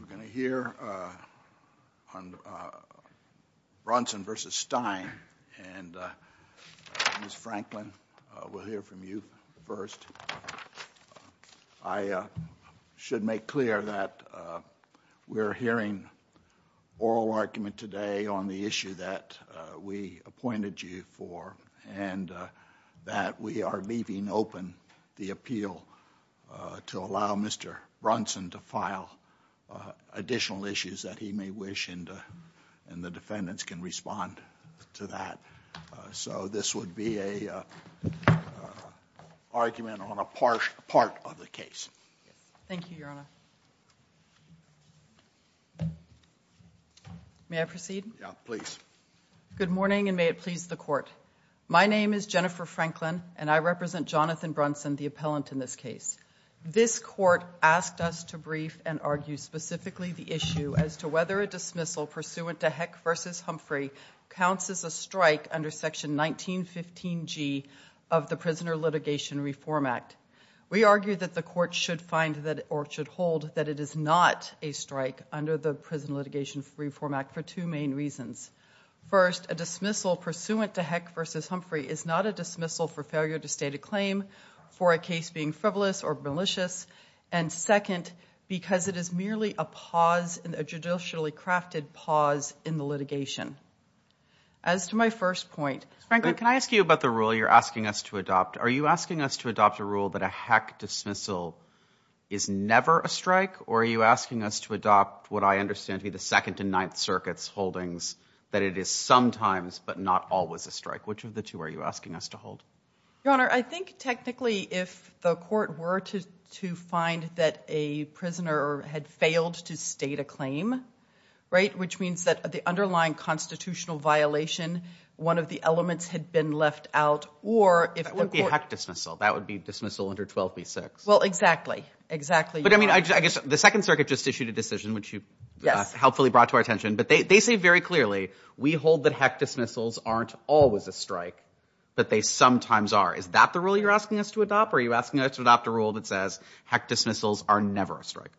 We're going to hear on Brunson v. Stein, and Ms. Franklin, we'll hear from you first. I should make clear that we're hearing oral argument today on the issue that we appointed you for and that we are leaving open the appeal to allow Mr. Brunson to file additional issues that he may wish, and the defendants can respond to that. So this would be an argument on a part of the case. Thank you, Your Honor. May I proceed? Yeah, please. Good morning, and may it please the court. My name is Jennifer Franklin, and I represent Jonathan Brunson, the appellant in this case. This court asked us to brief and argue specifically the issue as to whether a dismissal pursuant to Heck v. Humphrey counts as a strike under Section 1915G of the Prisoner Litigation Reform Act. We argue that the court should find or should hold that it is not a strike under the Prisoner Litigation Reform Act for two main reasons. First, a dismissal pursuant to Heck v. Humphrey is not a dismissal for failure to state a claim for a case being frivolous or malicious, and second, because it is merely a pause, a judicially crafted pause in the litigation. As to my first point- Ms. Franklin, can I ask you about the rule you're asking us to adopt? Are you asking us to adopt a rule that a Heck dismissal is never a strike, or are you asking us to adopt what I understand to be the Second and Ninth Circuit's holdings that it is sometimes but not always a strike? Which of the two are you asking us to hold? Your Honor, I think technically if the court were to find that a prisoner had failed to state a claim, which means that the underlying constitutional violation, one of the elements had been left out, or if the court- That would be a Heck dismissal. That would be dismissal under 12b-6. Well, exactly. Exactly. But I mean, I guess the Second Circuit just issued a decision, which you helpfully brought to our attention, but they say very clearly, we hold that Heck dismissals aren't always a strike, but they sometimes are. Is that the rule you're asking us to adopt, or are you asking us to adopt a rule that says Heck dismissals are never a strike?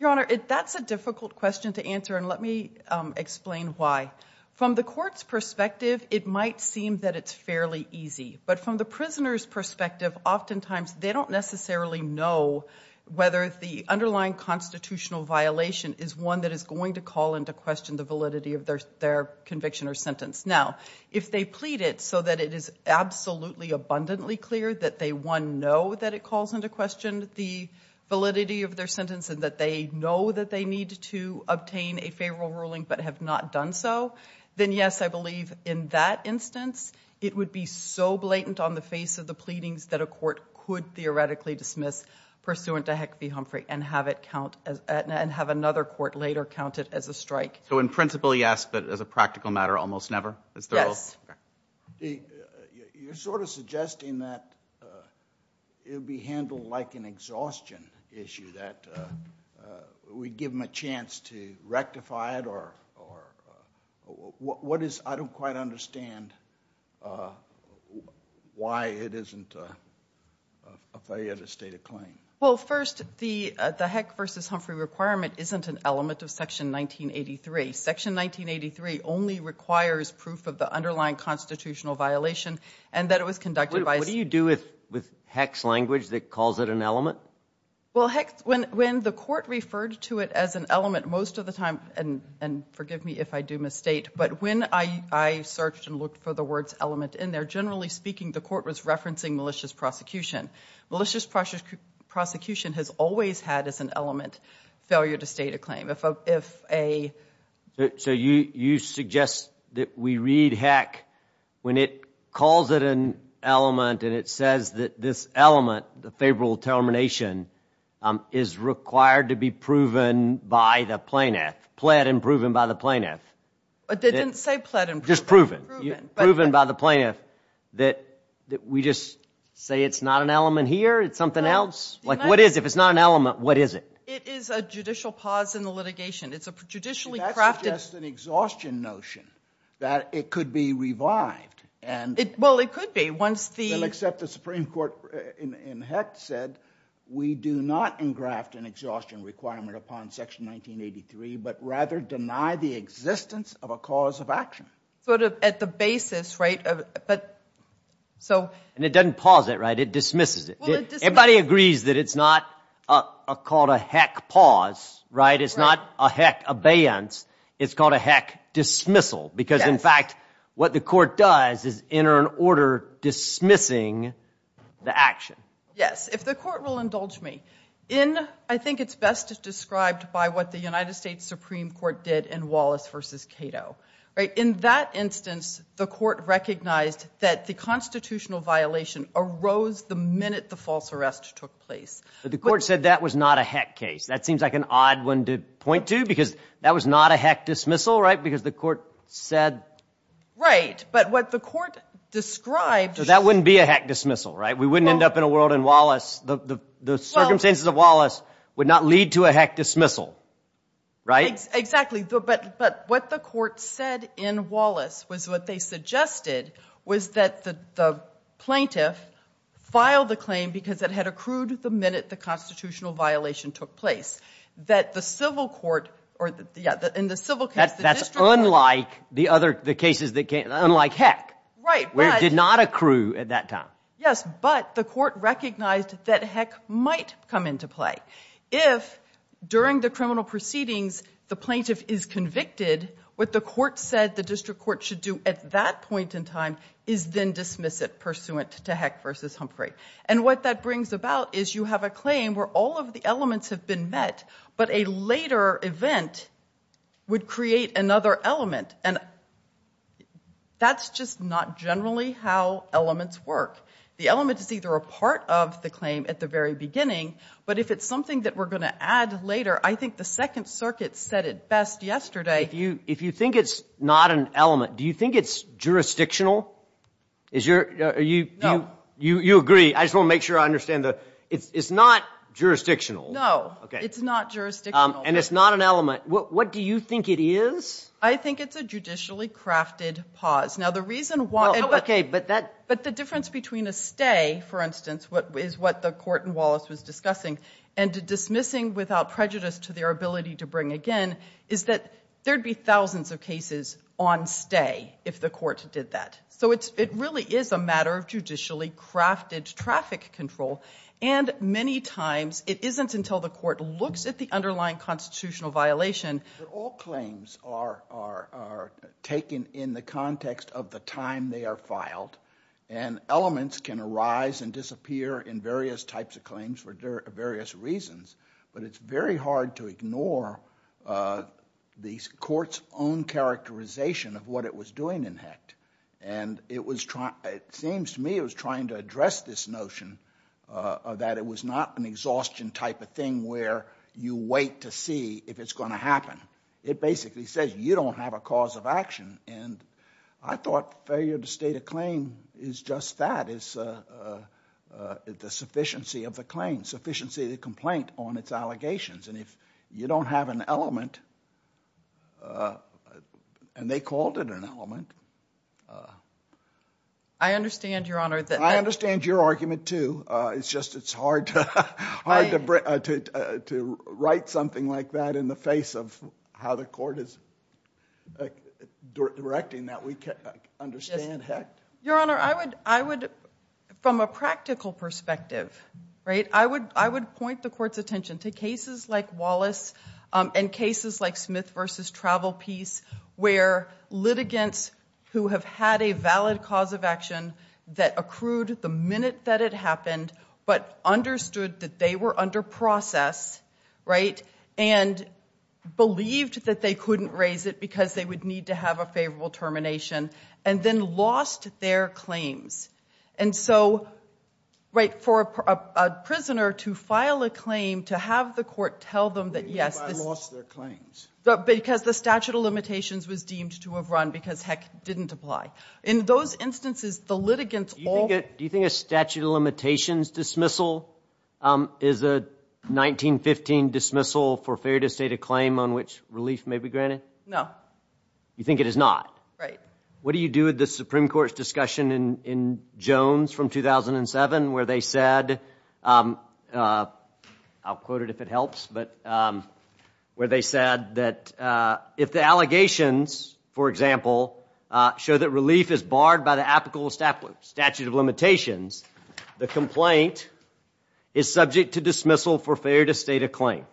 Your Honor, that's a difficult question to answer, and let me explain why. From the court's perspective, it might seem that it's fairly easy, but from the prisoner's perspective, oftentimes they don't necessarily know whether the underlying constitutional violation is one that is going to call into question the validity of their conviction or sentence. Now, if they plead it so that it is absolutely abundantly clear that they, one, know that it calls into question the validity of their sentence and that they know that they need to obtain a favorable ruling but have not done so, then yes, I believe in that instance, it would be so blatant on the face of the pleadings that a court could theoretically dismiss pursuant to Heck v. Humphrey and have another court later count it as a strike. So in principle, yes, but as a practical matter, almost never? Yes. You're sort of suggesting that it would be handled like an exhaustion issue, that we give them a chance to rectify it or what is, I don't quite understand why it isn't a failure to state a claim. Well, first, the Heck v. Humphrey requirement isn't an element of Section 1983. Section 1983 only requires proof of the underlying constitutional violation and that it was conducted by a... What do you do with Heck's language that calls it an element? Well, Heck, when the court referred to it as an element, most of the time, and forgive me if I do misstate, but when I searched and looked for the words element in there, generally speaking, the court was referencing malicious prosecution. Malicious prosecution has always had as an element failure to state a claim. So you suggest that we read Heck when it calls it an element and it says that this element, the favorable termination, is required to be proven by the plaintiff, pled and proven by the plaintiff. But they didn't say pled and proven. Just proven. Proven by the plaintiff. That we just say it's not an element here, it's something else? Like what is, if it's not an element, what is it? It is a judicial pause in the litigation. It's a judicially crafted... That's just an exhaustion notion that it could be revived and... Well, it could be once the... Well, except the Supreme Court in Heck said we do not engraft an exhaustion requirement upon Section 1983 but rather deny the existence of a cause of action. Sort of at the basis, right? And it doesn't pause it, right? It dismisses it. Everybody agrees that it's not called a Heck pause, right? It's not a Heck abeyance. It's called a Heck dismissal because, in fact, what the court does is enter an order dismissing the action. Yes. If the court will indulge me, I think it's best described by what the United States Supreme Court did in Wallace v. Cato. In that instance, the court recognized that the constitutional violation arose the minute the false arrest took place. But the court said that was not a Heck case. That seems like an odd one to point to because that was not a Heck dismissal, right? Because the court said... Right. But what the court described... So that wouldn't be a Heck dismissal, right? We wouldn't end up in a world in Wallace... The circumstances of Wallace would not lead to a Heck dismissal, right? Exactly. But what the court said in Wallace was what they suggested was that the plaintiff filed the claim because it had accrued the minute the constitutional violation took place. That the civil court... That's unlike the cases that came... Unlike Heck, where it did not accrue at that time. Yes, but the court recognized that Heck might come into play. If, during the criminal proceedings, the plaintiff is convicted, what the court said the district court should do at that point in time is then dismiss it pursuant to Heck v. Humphrey. And what that brings about is you have a claim where all of the elements have been met, but a later event would create another element. And that's just not generally how elements work. The element is either a part of the claim at the very beginning, but if it's something that we're going to add later... I think the Second Circuit said it best yesterday. If you think it's not an element, do you think it's jurisdictional? No. You agree. I just want to make sure I understand. It's not jurisdictional. No, it's not jurisdictional. And it's not an element. What do you think it is? I think it's a judicially crafted pause. But the difference between a stay, for instance, is what the court in Wallace was discussing, and dismissing without prejudice to their ability to bring again, is that there'd be thousands of cases on stay if the court did that. So it really is a matter of judicially crafted traffic control, and many times it isn't until the court looks at the underlying constitutional violation... All claims are taken in the context of the time they are filed, and elements can arise and disappear in various types of claims for various reasons, but it's very hard to ignore the court's own characterization of what it was doing in HECT. And it seems to me it was trying to address this notion that it was not an exhaustion type of thing where you wait to see if it's going to happen. It basically says you don't have a cause of action, and I thought failure to state a claim is just that, is the sufficiency of the claim, sufficiency of the complaint on its allegations. And if you don't have an element, and they called it an element... I understand, Your Honor. I understand your argument, too. It's just it's hard to write something like that in the face of how the court is directing that. We can't understand HECT. Your Honor, I would, from a practical perspective, I would point the court's attention to cases like Wallace and cases like Smith v. Travel Peace where litigants who have had a valid cause of action that accrued the minute that it happened but understood that they were under process and believed that they couldn't raise it because they would need to have a favorable termination and then lost their claims. And so, right, for a prisoner to file a claim, to have the court tell them that, yes... They lost their claims. Because the statute of limitations was deemed to have run because HECT didn't apply. In those instances, the litigants all... Do you think a statute of limitations dismissal is a 1915 dismissal for failure to state a claim on which relief may be granted? No. You think it is not? Right. What do you do with the Supreme Court's discussion in Jones from 2007 where they said... I'll quote it if it helps, but... Where they said that if the allegations, for example, show that relief is barred by the apical statute of limitations, the complaint is subject to dismissal for failure to state a claim.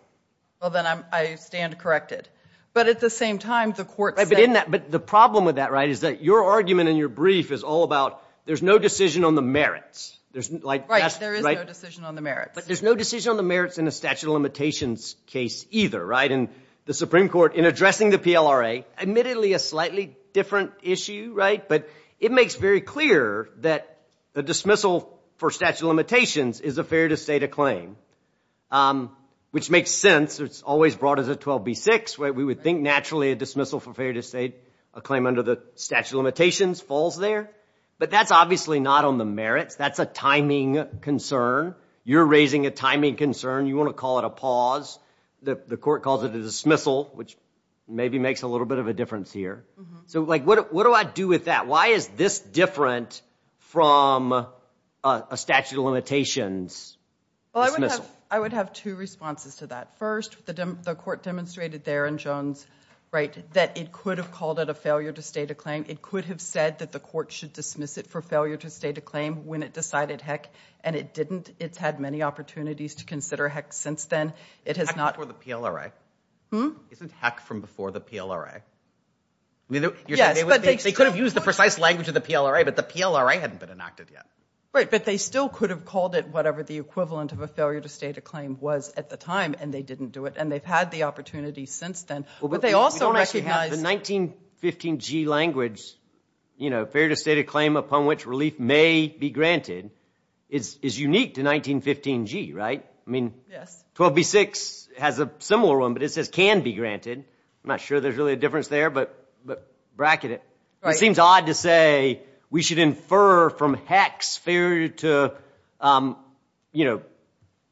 Well, then I stand corrected. But at the same time, the court said... But the problem with that is that your argument in your brief is all about there's no decision on the merits. Right, there is no decision on the merits. But there's no decision on the merits in a statute of limitations case either. And the Supreme Court, in addressing the PLRA, admittedly a slightly different issue, right? But it makes very clear that the dismissal for statute of limitations is a failure to state a claim, which makes sense. It's always brought as a 12b-6. We would think naturally a dismissal for failure to state a claim under the statute of limitations falls there. But that's obviously not on the merits. That's a timing concern. You're raising a timing concern. You want to call it a pause. The court calls it a dismissal, which maybe makes a little bit of a difference here. So what do I do with that? Why is this different from a statute of limitations dismissal? I would have two responses to that. First, the court demonstrated there in Jones, right, that it could have called it a failure to state a claim. It could have said that the court should dismiss it for failure to state a claim when it decided heck, and it didn't. It's had many opportunities to consider heck since then. Heck before the PLRA? Hmm? Isn't heck from before the PLRA? Yes, but they could have used the precise language of the PLRA, but the PLRA hadn't been enacted yet. Right, but they still could have called it whatever the equivalent of a failure to state a claim was at the time, and they didn't do it, and they've had the opportunity since then. But they also recognize... We don't actually have the 1915G language. Failure to state a claim upon which relief may be granted is unique to 1915G, right? Yes. 12b-6 has a similar one, but it says can be granted. I'm not sure there's really a difference there, but bracket it. It seems odd to say we should infer from heck's failure to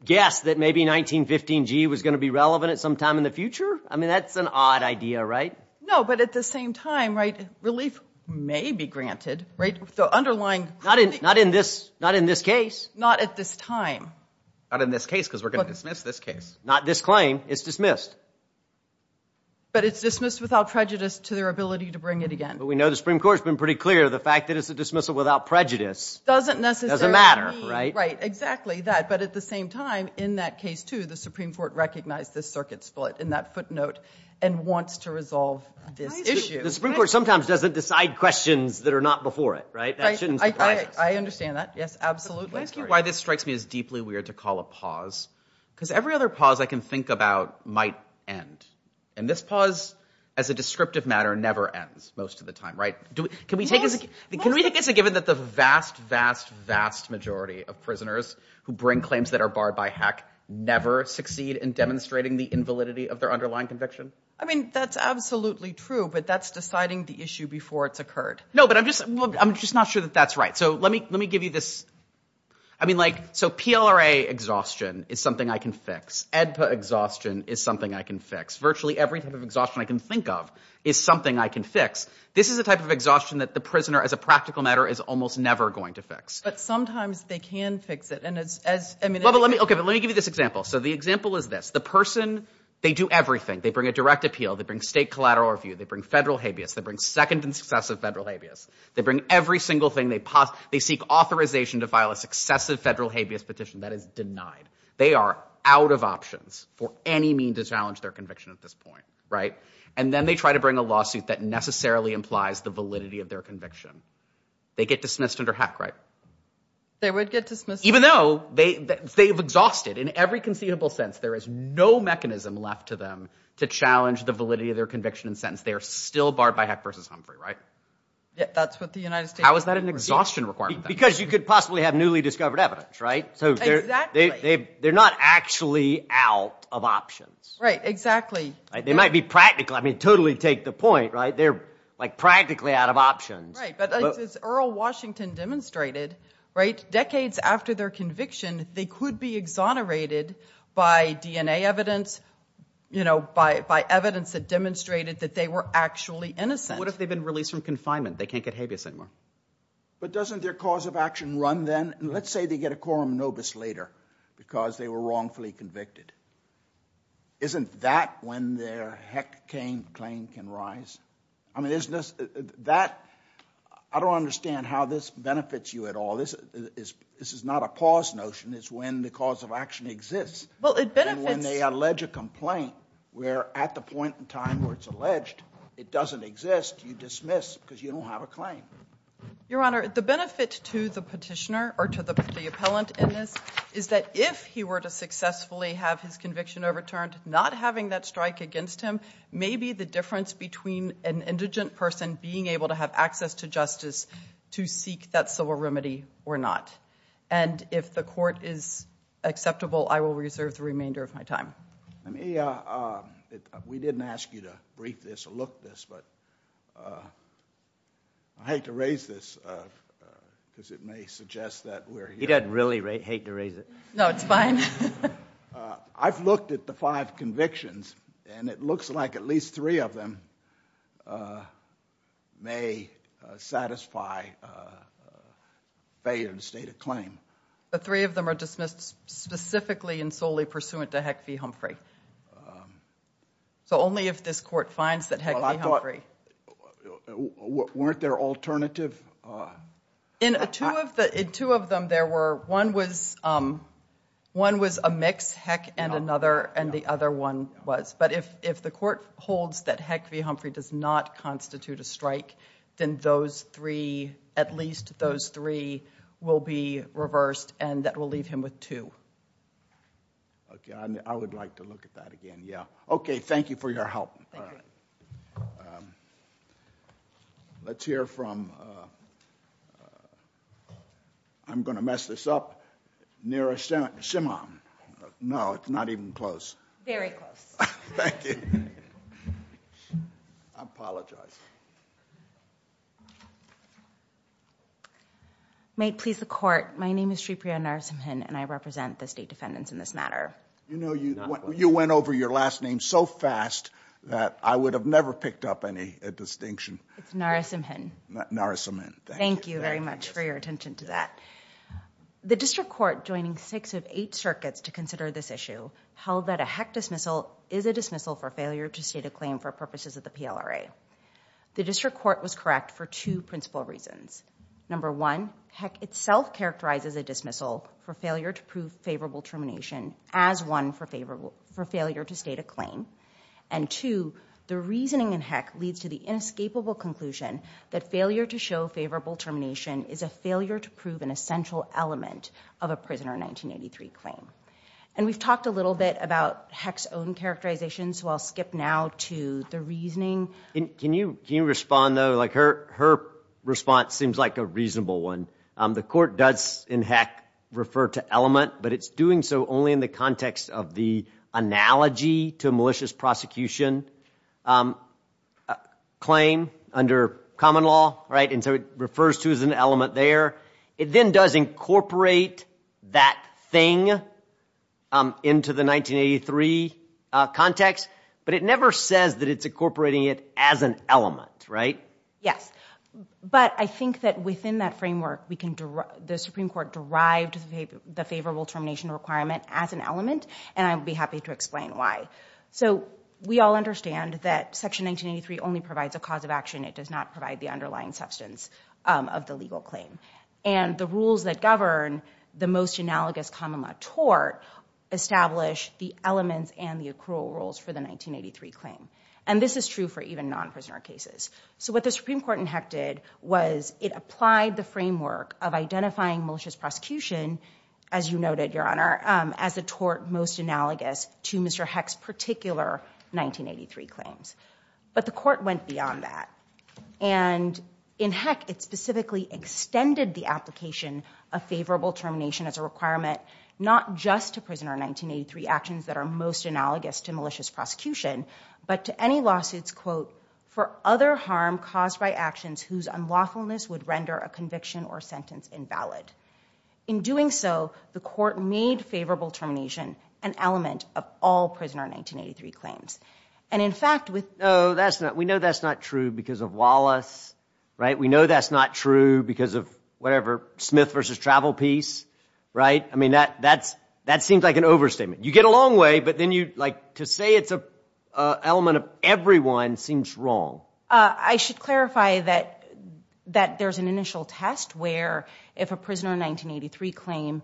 guess that maybe 1915G was going to be relevant at some time in the future. I mean, that's an odd idea, right? No, but at the same time, right, relief may be granted, right? The underlying... Not in this case. Not at this time. Not in this case because we're going to dismiss this case. Not this claim. It's dismissed. But it's dismissed without prejudice to their ability to bring it again. But we know the Supreme Court has been pretty clear of the fact that it's a dismissal without prejudice. Doesn't necessarily mean... Doesn't matter, right? Right, exactly that. But at the same time, in that case, too, the Supreme Court recognized this circuit split in that footnote and wants to resolve this issue. The Supreme Court sometimes doesn't decide questions that are not before it, right? That shouldn't surprise us. I understand that. Yes, absolutely. Can I ask you why this strikes me as deeply weird to call a pause? Because every other pause I can think about might end. And this pause, as a descriptive matter, never ends most of the time, right? Can we take this as a given that the vast, vast, vast majority of prisoners who bring claims that are barred by HEC never succeed in demonstrating the invalidity of their underlying conviction? I mean, that's absolutely true, but that's deciding the issue before it's occurred. No, but I'm just not sure that that's right. So let me give you this... I mean, like, so PLRA exhaustion is something I can fix. EDPA exhaustion is something I can fix. Virtually every type of exhaustion I can think of is something I can fix. This is a type of exhaustion that the prisoner, as a practical matter, is almost never going to fix. But sometimes they can fix it, and as... Okay, but let me give you this example. So the example is this. The person, they do everything. They bring a direct appeal. They bring state collateral review. They bring federal habeas. They bring second and successive federal habeas. They bring every single thing they possibly... They seek authorization to file a successive federal habeas petition. That is denied. They are out of options for any mean to challenge their conviction at this point, right? And then they try to bring a lawsuit that necessarily implies the validity of their conviction. They get dismissed under HEC, right? They would get dismissed. Even though they've exhausted... In every conceivable sense, there is no mechanism left to them to challenge the validity of their conviction and sentence. They are still barred by HEC versus Humphrey, right? That's what the United States... How is that an exhaustion requirement? Because you could possibly have newly discovered evidence, right? Exactly. So they're not actually out of options. Right, exactly. They might be practical. I mean, totally take the point, right? They're practically out of options. Right, but as Earl Washington demonstrated, decades after their conviction, they could be exonerated by DNA evidence, by evidence that demonstrated that they were actually innocent. What if they've been released from confinement? They can't get habeas anymore. But doesn't their cause of action run then? Let's say they get a quorum nobis later because they were wrongfully convicted. Isn't that when their HEC claim can rise? I mean, isn't this... That... I don't understand how this benefits you at all. This is not a pause notion. It's when the cause of action exists. Well, it benefits... And when they allege a complaint, where at the point in time where it's alleged it doesn't exist, you dismiss because you don't have a claim. Your Honor, the benefit to the petitioner or to the appellant in this is that if he were to successfully have his conviction overturned, not having that strike against him, maybe the difference between an indigent person being able to have access to justice to seek that civil remedy or not. And if the court is acceptable, I will reserve the remainder of my time. Let me... We didn't ask you to brief this or look this, but... I hate to raise this because it may suggest that we're... He doesn't really hate to raise it. No, it's fine. I've looked at the five convictions, and it looks like at least three of them may satisfy failure in the state of claim. But three of them are dismissed specifically and solely pursuant to HEC v. Humphrey. So only if this court finds that HEC v. Humphrey. Weren't there alternative... In two of them, there were... One was a mix, HEC and another, and the other one was. But if the court holds that HEC v. Humphrey does not constitute a strike, then those three, at least those three, will be reversed, and that will leave him with two. Okay, I would like to look at that again, yeah. Okay, thank you for your help. Thank you. All right. Let's hear from... I'm going to mess this up. Nira Shimom. No, it's not even close. Very close. Thank you. I apologize. May it please the court, my name is Sripriya Narasimhan, and I represent the state defendants in this matter. You know, you went over your last name so fast that I would have never picked up any distinction. It's Narasimhan. Narasimhan, thank you. Thank you very much for your attention to that. The district court, joining six of eight circuits to consider this issue, held that a HEC dismissal is a dismissal for failure to state a claim for purposes of the PLRA. The district court was correct for two principal reasons. Number one, HEC itself characterizes a dismissal for failure to prove favorable termination as one for failure to state a claim. And two, the reasoning in HEC leads to the inescapable conclusion that failure to show favorable termination is a failure to prove an essential element of a prisoner 1983 claim. And we've talked a little bit about HEC's own characterization, so I'll skip now to the reasoning. Can you respond, though? Her response seems like a reasonable one. The court does in HEC refer to element, but it's doing so only in the context of the analogy to a malicious prosecution claim under common law, right? And so it refers to as an element there. It then does incorporate that thing into the 1983 context, but it never says that it's incorporating it as an element, right? Yes. But I think that within that framework, the Supreme Court derived the favorable termination requirement as an element, and I'd be happy to explain why. So we all understand that Section 1983 only provides a cause of action. It does not provide the underlying substance of the legal claim. And the rules that govern the most analogous common law tort establish the elements and the accrual rules for the 1983 claim. And this is true for even non-prisoner cases. So what the Supreme Court in HEC did was it applied the framework of identifying malicious prosecution, as you noted, Your Honor, as a tort most analogous to Mr. HEC's particular 1983 claims. But the court went beyond that. And in HEC, it specifically extended the application of favorable termination as a requirement not just to prisoner 1983 actions that are most analogous to malicious prosecution, but to any lawsuits, quote, for other harm caused by actions whose unlawfulness would render a conviction or sentence invalid. In doing so, the court made favorable termination an element of all prisoner 1983 claims. And in fact, with... No, that's not... We know that's not true because of Wallace, right? We know that's not true because of, whatever, Smith v. Travel Peace, right? I mean, that seems like an overstatement. You get a long way, but then you, like, to say it's an element of everyone seems wrong. I should clarify that there's an initial test where if a prisoner 1983 claim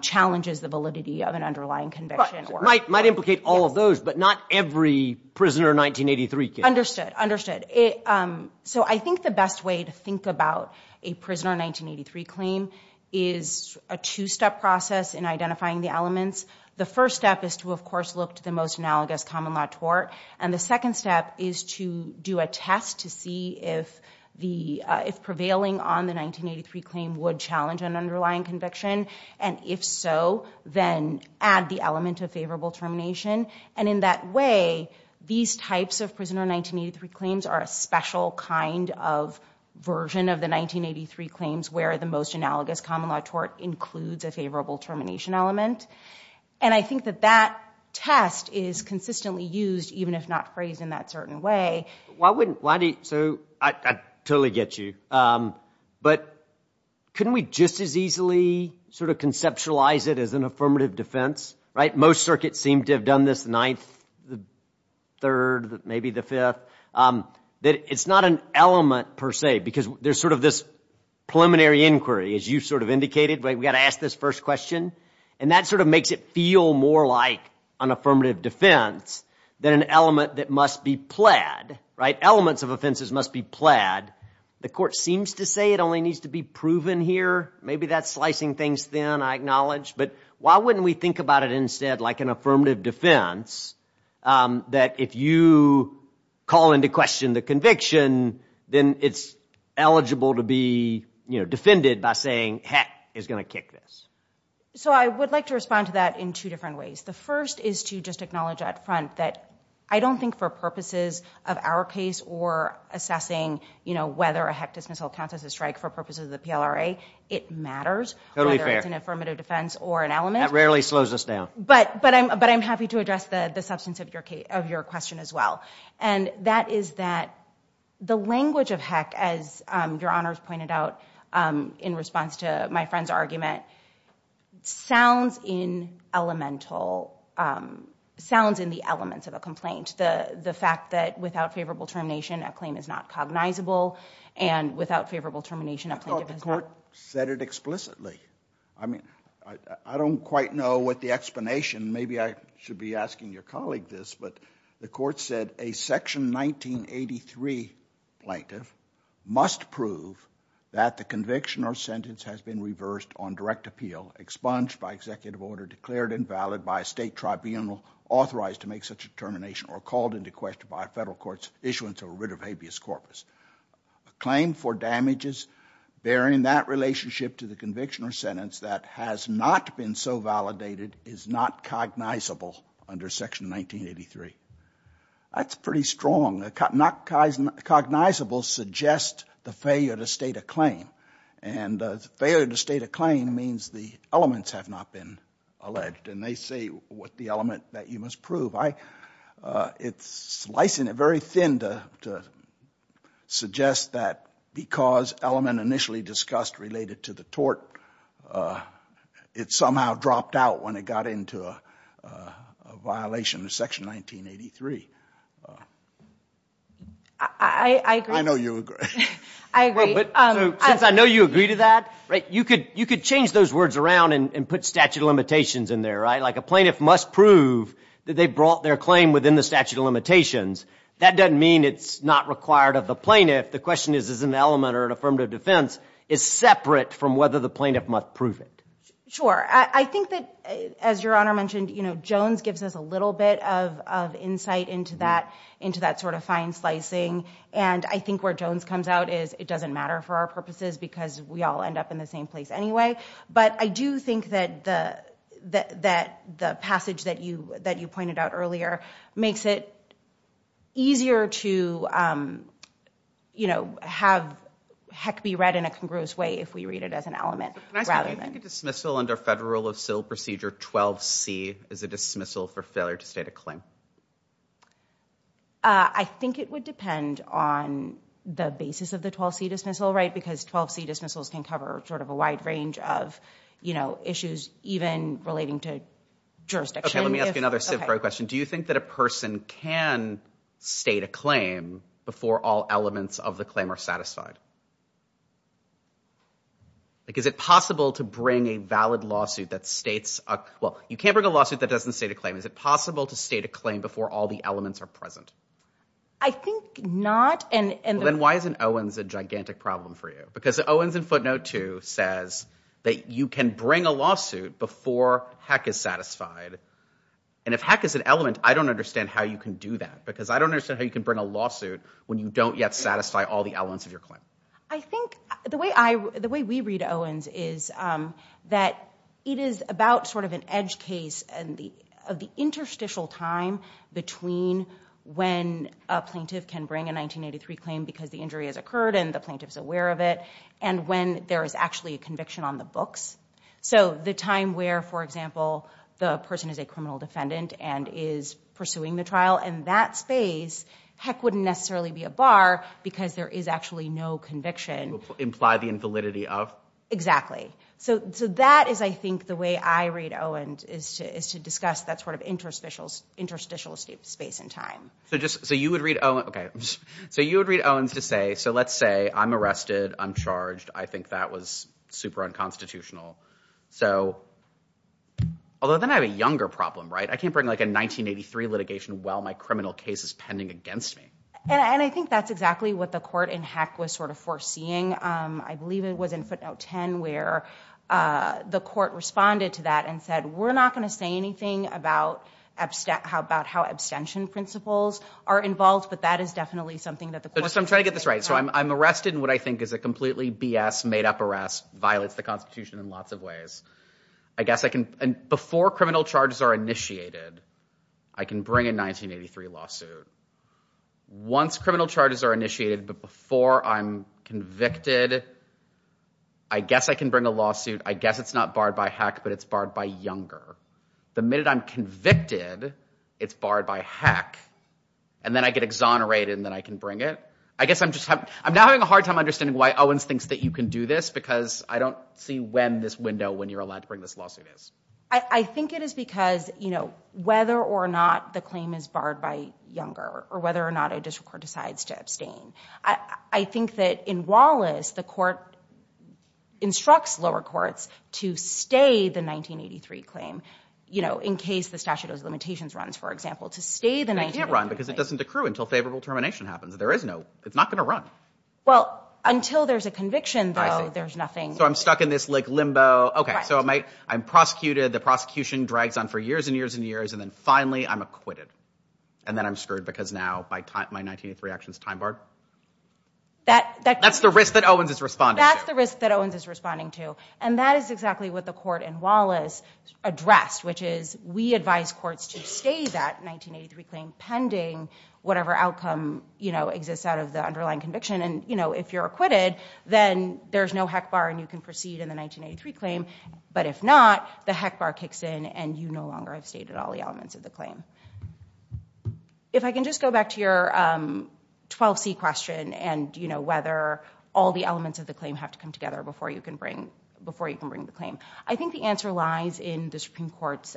challenges the validity of an underlying conviction... Might implicate all of those, but not every prisoner 1983 case. Understood, understood. So I think the best way to think about a prisoner 1983 claim is a two-step process in identifying the elements. The first step is to, of course, look to the most analogous common-law tort. And the second step is to do a test to see if prevailing on the 1983 claim would challenge an underlying conviction. And if so, then add the element of favorable termination. And in that way, these types of prisoner 1983 claims are a special kind of version of the 1983 claims where the most analogous common-law tort includes a favorable termination element. And I think that that test is consistently used, even if not phrased in that certain way. Why wouldn't... Why do you... So, I totally get you. But couldn't we just as easily sort of conceptualize it as an affirmative defense? Right? Most circuits seem to have done this, the ninth, the third, maybe the fifth. It's not an element, per se, because there's sort of this preliminary inquiry, as you sort of indicated. We've got to ask this first question. And that sort of makes it feel more like an affirmative defense than an element that must be plaid. Right? Elements of offenses must be plaid. The court seems to say it only needs to be proven here. Maybe that's slicing things thin, I acknowledge. But why wouldn't we think about it instead like an affirmative defense that if you call into question the conviction, then it's eligible to be defended by saying, heck, it's going to kick this. So I would like to respond to that in two different ways. The first is to just acknowledge up front that I don't think for purposes of our case or assessing whether a HECDIS missile counts as a strike for purposes of the PLRA, it matters whether it's an affirmative defense or an element. That rarely slows us down. But I'm happy to address the substance of your question as well. And that is that the language of heck, as Your Honors pointed out in response to my friend's argument, sounds in the elements of a complaint. The fact that without favorable termination, a claim is not cognizable. And without favorable termination, a plaintiff is not... Well, the court said it explicitly. I mean, I don't quite know what the explanation... Maybe I should be asking your colleague this, but the court said a Section 1983 plaintiff must prove that the conviction or sentence has been reversed on direct appeal, expunged by executive order, declared invalid by a state tribunal authorized to make such a termination or called into question by a federal court's issuance of a writ of habeas corpus. A claim for damages bearing that relationship to the conviction or sentence that has not been so validated is not cognizable under Section 1983. That's pretty strong. Not cognizable suggests the failure to state a claim. And failure to state a claim means the elements have not been alleged. And they say what the element that you must prove. It's slicing it very thin to suggest that because element initially discussed related to the tort, it somehow dropped out when it got into a violation of Section 1983. I agree. I know you agree. I agree. Since I know you agree to that, you could change those words around and put statute of limitations in there, right? Like a plaintiff must prove that they brought their claim within the statute of limitations. That doesn't mean it's not required of the plaintiff. The question is, is an element or an affirmative defense is separate from whether the plaintiff must prove it. Sure. I think that, as Your Honor mentioned, Jones gives us a little bit of insight into that sort of fine slicing. And I think where Jones comes out is it doesn't matter for our purposes because we all end up in the same place anyway. But I do think that the passage that you pointed out earlier makes it easier to, you know, have heck be read in a congruous way if we read it as an element rather than... Can I say, I think a dismissal under federal of civil procedure 12C is a dismissal for failure to state a claim. I think it would depend on the basis of the 12C dismissal, right? Because 12C dismissals can cover sort of a wide range of, you know, issues even relating to jurisdiction. OK, let me ask you another CivPro question. Do you think that a person can state a claim before all elements of the claim are satisfied? Like, is it possible to bring a valid lawsuit that states... Well, you can't bring a lawsuit that doesn't state a claim. Is it possible to state a claim before all the elements are present? I think not. Then why isn't Owens a gigantic problem for you? Because Owens in footnote 2 says that you can bring a lawsuit before heck is satisfied. And if heck is an element, I don't understand how you can do that. Because I don't understand how you can bring a lawsuit when you don't yet satisfy all the elements of your claim. I think the way we read Owens is that it is about sort of an edge case of the interstitial time between when a plaintiff can bring a 1983 claim because the injury has occurred and the plaintiff's aware of it and when there is actually a conviction on the books. So the time where, for example, the person is a criminal defendant and is pursuing the trial in that space, heck wouldn't necessarily be a bar because there is actually no conviction. Imply the invalidity of? Exactly. So that is, I think, the way I read Owens is to discuss that sort of interstitial space in time. So you would read Owens to say, so let's say I'm arrested, I'm charged, I think that was super unconstitutional. So, although then I have a younger problem, right? I can't bring like a 1983 litigation while my criminal case is pending against me. And I think that's exactly what the court in heck was sort of foreseeing. I believe it was in footnote 10 where the court responded to that and said, we're not going to say anything about how abstention principles are involved, but that is definitely something that the court... I'm just trying to get this right. So I'm arrested in what I think is a completely BS, made up arrest, violates the Constitution in lots of ways. I guess I can, before criminal charges are initiated, I can bring a 1983 lawsuit. Once criminal charges are initiated, but before I'm convicted, I guess I can bring a lawsuit. I guess it's not barred by heck, but it's barred by younger. The minute I'm convicted, it's barred by heck. And then I get exonerated and then I can bring it. I guess I'm just having... I'm now having a hard time understanding why Owens thinks that you can do this, because I don't see when this window, when you're allowed to bring this lawsuit is. I think it is because, you know, whether or not the claim is barred by younger or whether or not a district court decides to abstain. I think that in Wallace, the court instructs lower courts to stay the 1983 claim, you know, in case the statute of limitations runs, for example, to stay the 1983 claim. But it can't run, because it doesn't accrue until favorable termination happens. There is no... It's not going to run. Well, until there's a conviction, though, there's nothing... So I'm stuck in this, like, limbo. Right. Okay, so I'm prosecuted. The prosecution drags on for years and years and years, and then finally I'm acquitted. And then I'm screwed, because now my 1983 action's time-barred? That... That's the risk that Owens is responding to. That's the risk that Owens is responding to. And that is exactly what the court in Wallace addressed, which is we advise courts to stay that 1983 claim pending whatever outcome, you know, exists out of the underlying conviction. And, you know, if you're acquitted, then there's no heck bar, and you can proceed in the 1983 claim. But if not, the heck bar kicks in, and you no longer have stayed at all the elements of the claim. If I can just go back to your 12C question, and, you know, whether all the elements of the claim have to come together before you can bring... before you can bring the claim. I think the answer lies in the Supreme Court's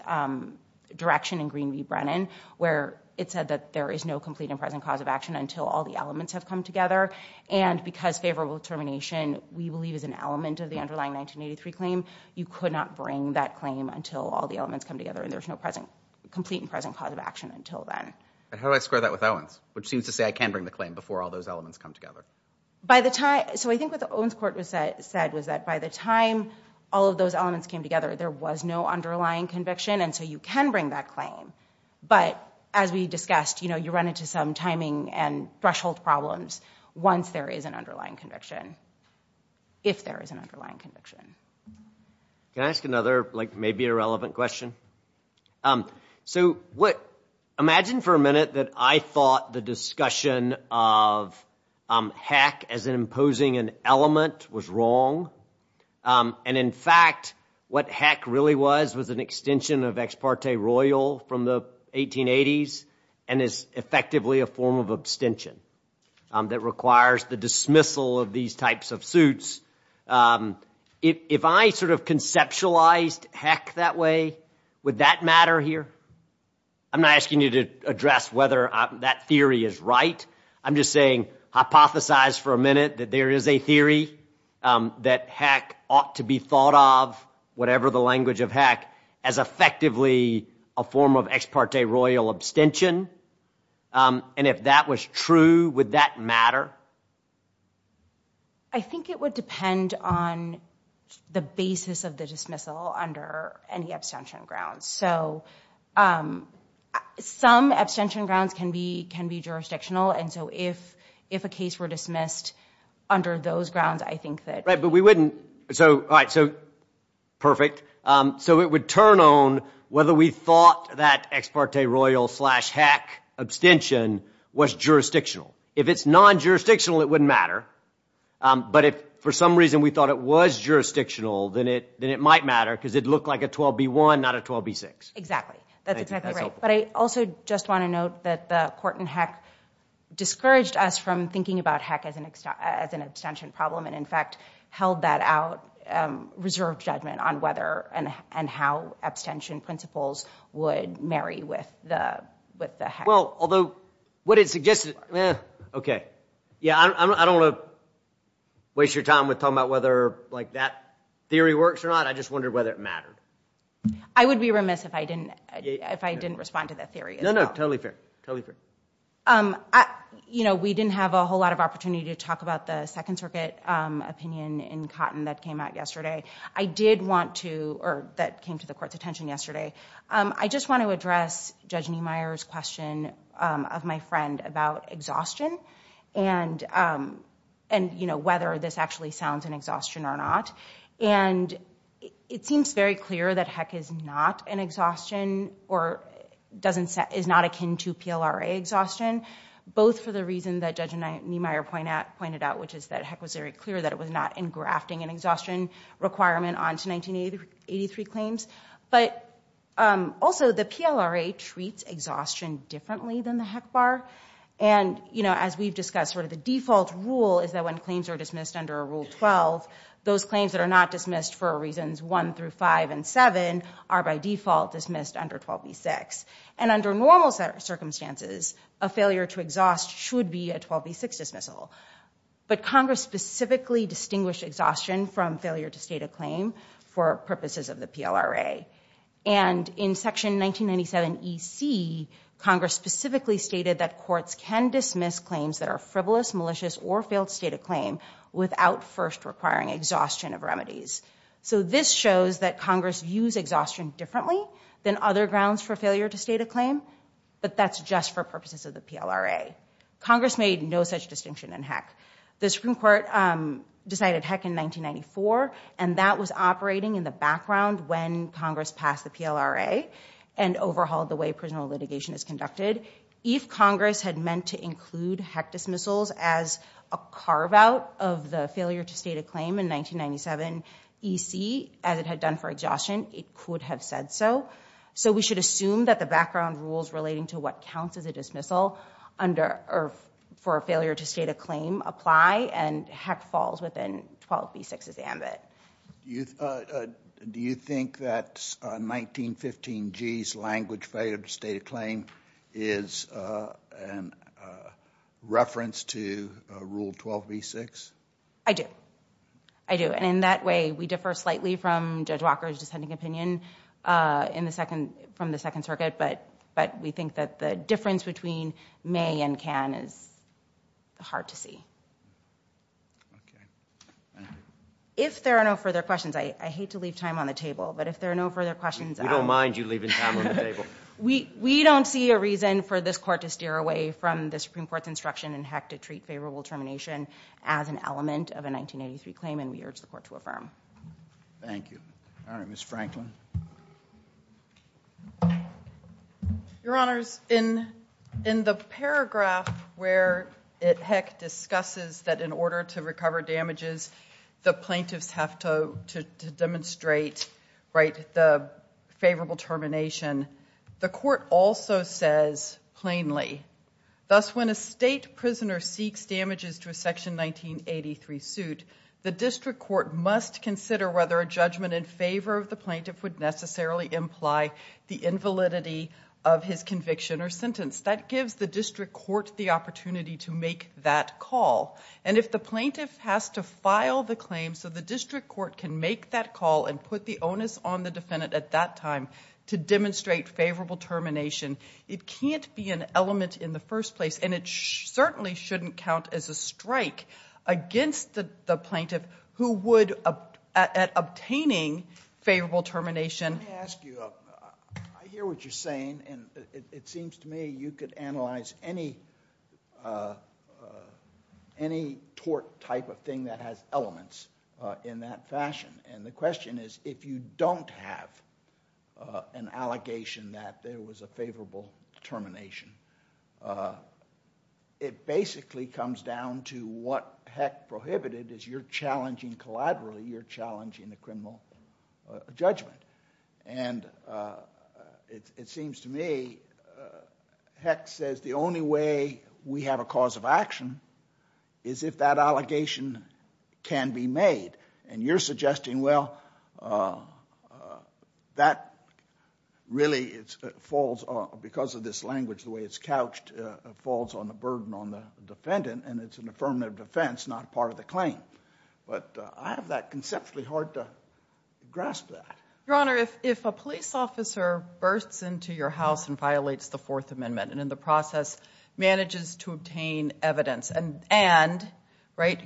direction in Green v. Brennan, where it said that there is no complete and present cause of action until all the elements have come together. And because favorable termination, we believe, is an element of the underlying 1983 claim, you could not bring that claim until all the elements come together, and there's no present... complete and present cause of action until then. But how do I square that with Owens, which seems to say I can bring the claim before all those elements come together? By the time... So I think what the Owens court said was that by the time all of those elements came together, there was no underlying conviction, and so you can bring that claim. But, as we discussed, you know, you run into some timing and threshold problems once there is an underlying conviction, if there is an underlying conviction. Can I ask another, like, maybe irrelevant question? So what... Imagine for a minute that I thought the discussion of hack as imposing an element was wrong, and, in fact, what hack really was was an extension of ex parte royal from the 1880s and is effectively a form of abstention that requires the dismissal of these types of suits. If I sort of conceptualized hack that way, would that matter here? I'm not asking you to address whether that theory is right. I'm just saying hypothesize for a minute that there is a theory that hack ought to be thought of, whatever the language of hack, as effectively a form of ex parte royal abstention. And if that was true, would that matter? I think it would depend on the basis of the dismissal under any abstention grounds. So some abstention grounds can be jurisdictional, and so if a case were dismissed under those grounds, I think that... Right, but we wouldn't... So, all right, so... Perfect. So it would turn on whether we thought that ex parte royal slash hack abstention was jurisdictional. If it's non-jurisdictional, it wouldn't matter. But if, for some reason, we thought it was jurisdictional, then it might matter, because it looked like a 12B1, not a 12B6. Exactly. That's exactly right. But I also just want to note that the court in hack discouraged us from thinking about hack as an abstention problem, and, in fact, held that out reserved judgment on whether and how abstention principles would marry with the hack. Well, although what it suggested... Okay. Yeah, I don't want to waste your time with talking about whether, like, that theory works or not. I just wondered whether it mattered. I would be remiss if I didn't respond to that theory. No, no, totally fair, totally fair. You know, we didn't have a whole lot of opportunity to talk about the Second Circuit opinion in Cotton that came out yesterday. I did want to... Or that came to the court's attention yesterday. I just want to address Judge Niemeyer's question of my friend about exhaustion and, you know, whether this actually sounds an exhaustion or not. And it seems very clear that hack is not an exhaustion or is not akin to PLRA exhaustion, both for the reason that Judge Niemeyer pointed out, which is that hack was very clear that it was not engrafting an exhaustion requirement onto 1983 claims, but also the PLRA treats exhaustion differently than the hack bar. And, you know, as we've discussed, sort of the default rule is that when claims are dismissed under Rule 12, those claims that are not dismissed for reasons 1 through 5 and 7 are by default dismissed under 12b-6. And under normal circumstances, a failure to exhaust should be a 12b-6 dismissal. But Congress specifically distinguished exhaustion from failure to state a claim for purposes of the PLRA. And in Section 1997 EC, Congress specifically stated that courts can dismiss claims that are frivolous, malicious, or failed to state a claim without first requiring exhaustion of remedies. So this shows that Congress views exhaustion differently than other grounds for failure to state a claim, but that's just for purposes of the PLRA. Congress made no such distinction in hack. The Supreme Court decided hack in 1994, and that was operating in the background when Congress passed the PLRA and overhauled the way prison litigation is conducted. If Congress had meant to include hack dismissals as a carve-out of the failure to state a claim in 1997 EC, as it had done for exhaustion, it could have said so. So we should assume that the background rules relating to what counts as a dismissal for a failure to state a claim apply, and hack falls within 12b-6's ambit. Do you think that 1915G's language, failure to state a claim, is a reference to Rule 12b-6? I do. I do. And in that way we differ slightly from Judge Walker's dissenting opinion from the Second Circuit, but we think that the difference between may and can is hard to see. Okay. Thank you. If there are no further questions, I hate to leave time on the table, but if there are no further questions... We don't mind you leaving time on the table. We don't see a reason for this court to steer away from the Supreme Court's instruction in Heck to treat favorable termination as an element of a 1983 claim, and we urge the court to affirm. Thank you. All right, Ms. Franklin. Your Honors, in the paragraph where Heck discusses that in order to recover damages, the plaintiffs have to demonstrate the favorable termination, the court also says plainly, thus when a state prisoner seeks damages to a Section 1983 suit, the district court must consider whether a judgment in favor of the plaintiff would necessarily imply the invalidity of his conviction or sentence. That gives the district court the opportunity to make that call, and if the plaintiff has to file the claim so the district court can make that call and put the onus on the defendant at that time to demonstrate favorable termination, it can't be an element in the first place, and it certainly shouldn't count as a strike against the plaintiff who would, at obtaining favorable termination... Let me ask you, I hear what you're saying, and it seems to me you could analyze any tort type of thing that has elements in that fashion, and the question is if you don't have an allegation that there was a favorable termination, it basically comes down to what Heck prohibited, as you're challenging collaterally, you're challenging the criminal judgment, and it seems to me, Heck says the only way we have a cause of action is if that allegation can be made, and you're suggesting, well, that really falls, because of this language, the way it's couched, falls on the burden on the defendant, and it's an affirmative defense, not part of the claim, but I have that conceptually hard to grasp that. Your Honor, if a police officer bursts into your house and violates the Fourth Amendment and in the process manages to obtain evidence, and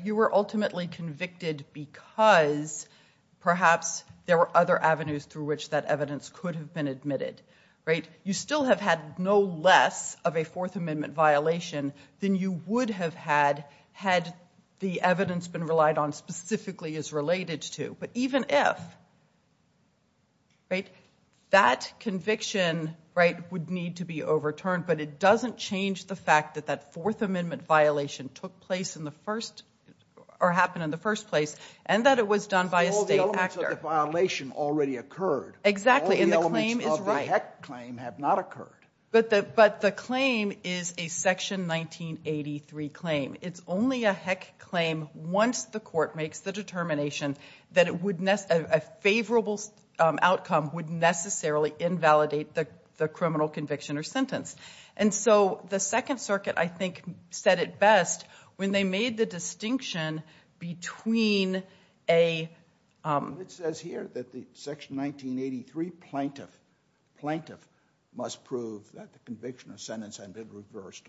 you were ultimately convicted because perhaps there were other avenues through which that evidence could have been admitted, you still have had no less of a Fourth Amendment violation than you would have had had the evidence been relied on specifically as related to, but even if, that conviction would need to be overturned, but it doesn't change the fact that that Fourth Amendment violation took place in the first, or happened in the first place, and that it was done by a state actor. All the elements of the violation already occurred. Exactly, and the claim is right. All the elements of the Heck claim have not occurred. But the claim is a Section 1983 claim. It's only a Heck claim once the court makes the determination that a favorable outcome would necessarily invalidate the criminal conviction or sentence, and so the Second Circuit, I think, said it best when they made the distinction between a... It says here that the Section 1983 plaintiff must prove that the conviction or sentence had been reversed.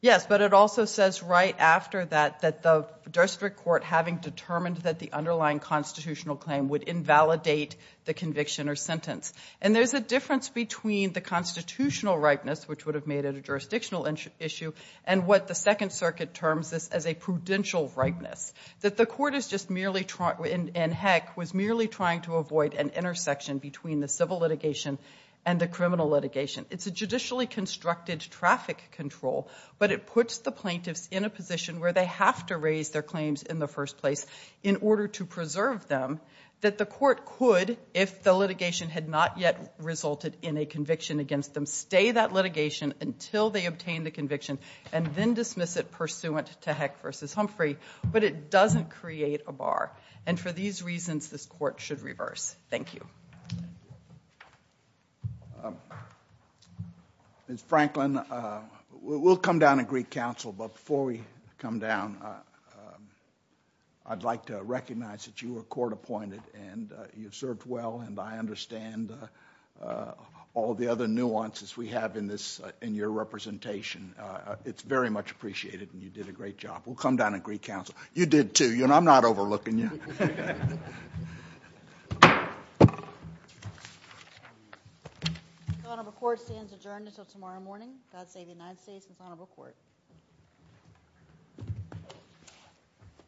Yes, but it also says right after that that the district court, having determined that the underlying constitutional claim would invalidate the conviction or sentence, and there's a difference between the constitutional ripeness, which would have made it a jurisdictional issue, and what the Second Circuit terms as a prudential ripeness, that the court is just merely... And Heck was merely trying to avoid an intersection between the civil litigation and the criminal litigation. It's a judicially constructed traffic control, but it puts the plaintiffs in a position where they have to raise their claims in the first place in order to preserve them, that the court could, if the litigation had not yet resulted in a conviction against them, stay that litigation until they obtain the conviction and then dismiss it pursuant to Heck v. Humphrey, but it doesn't create a bar, and for these reasons, this court should reverse. Thank you. Ms. Franklin, we'll come down and greet counsel, but before we come down, I'd like to recognize that you were court-appointed and you've served well, and I understand all the other nuances we have in your representation. It's very much appreciated, and you did a great job. We'll come down and greet counsel. You did, too. I'm not overlooking you. The Honorable Court stands adjourned until tomorrow morning. God save the United States and the Honorable Court. Thank you.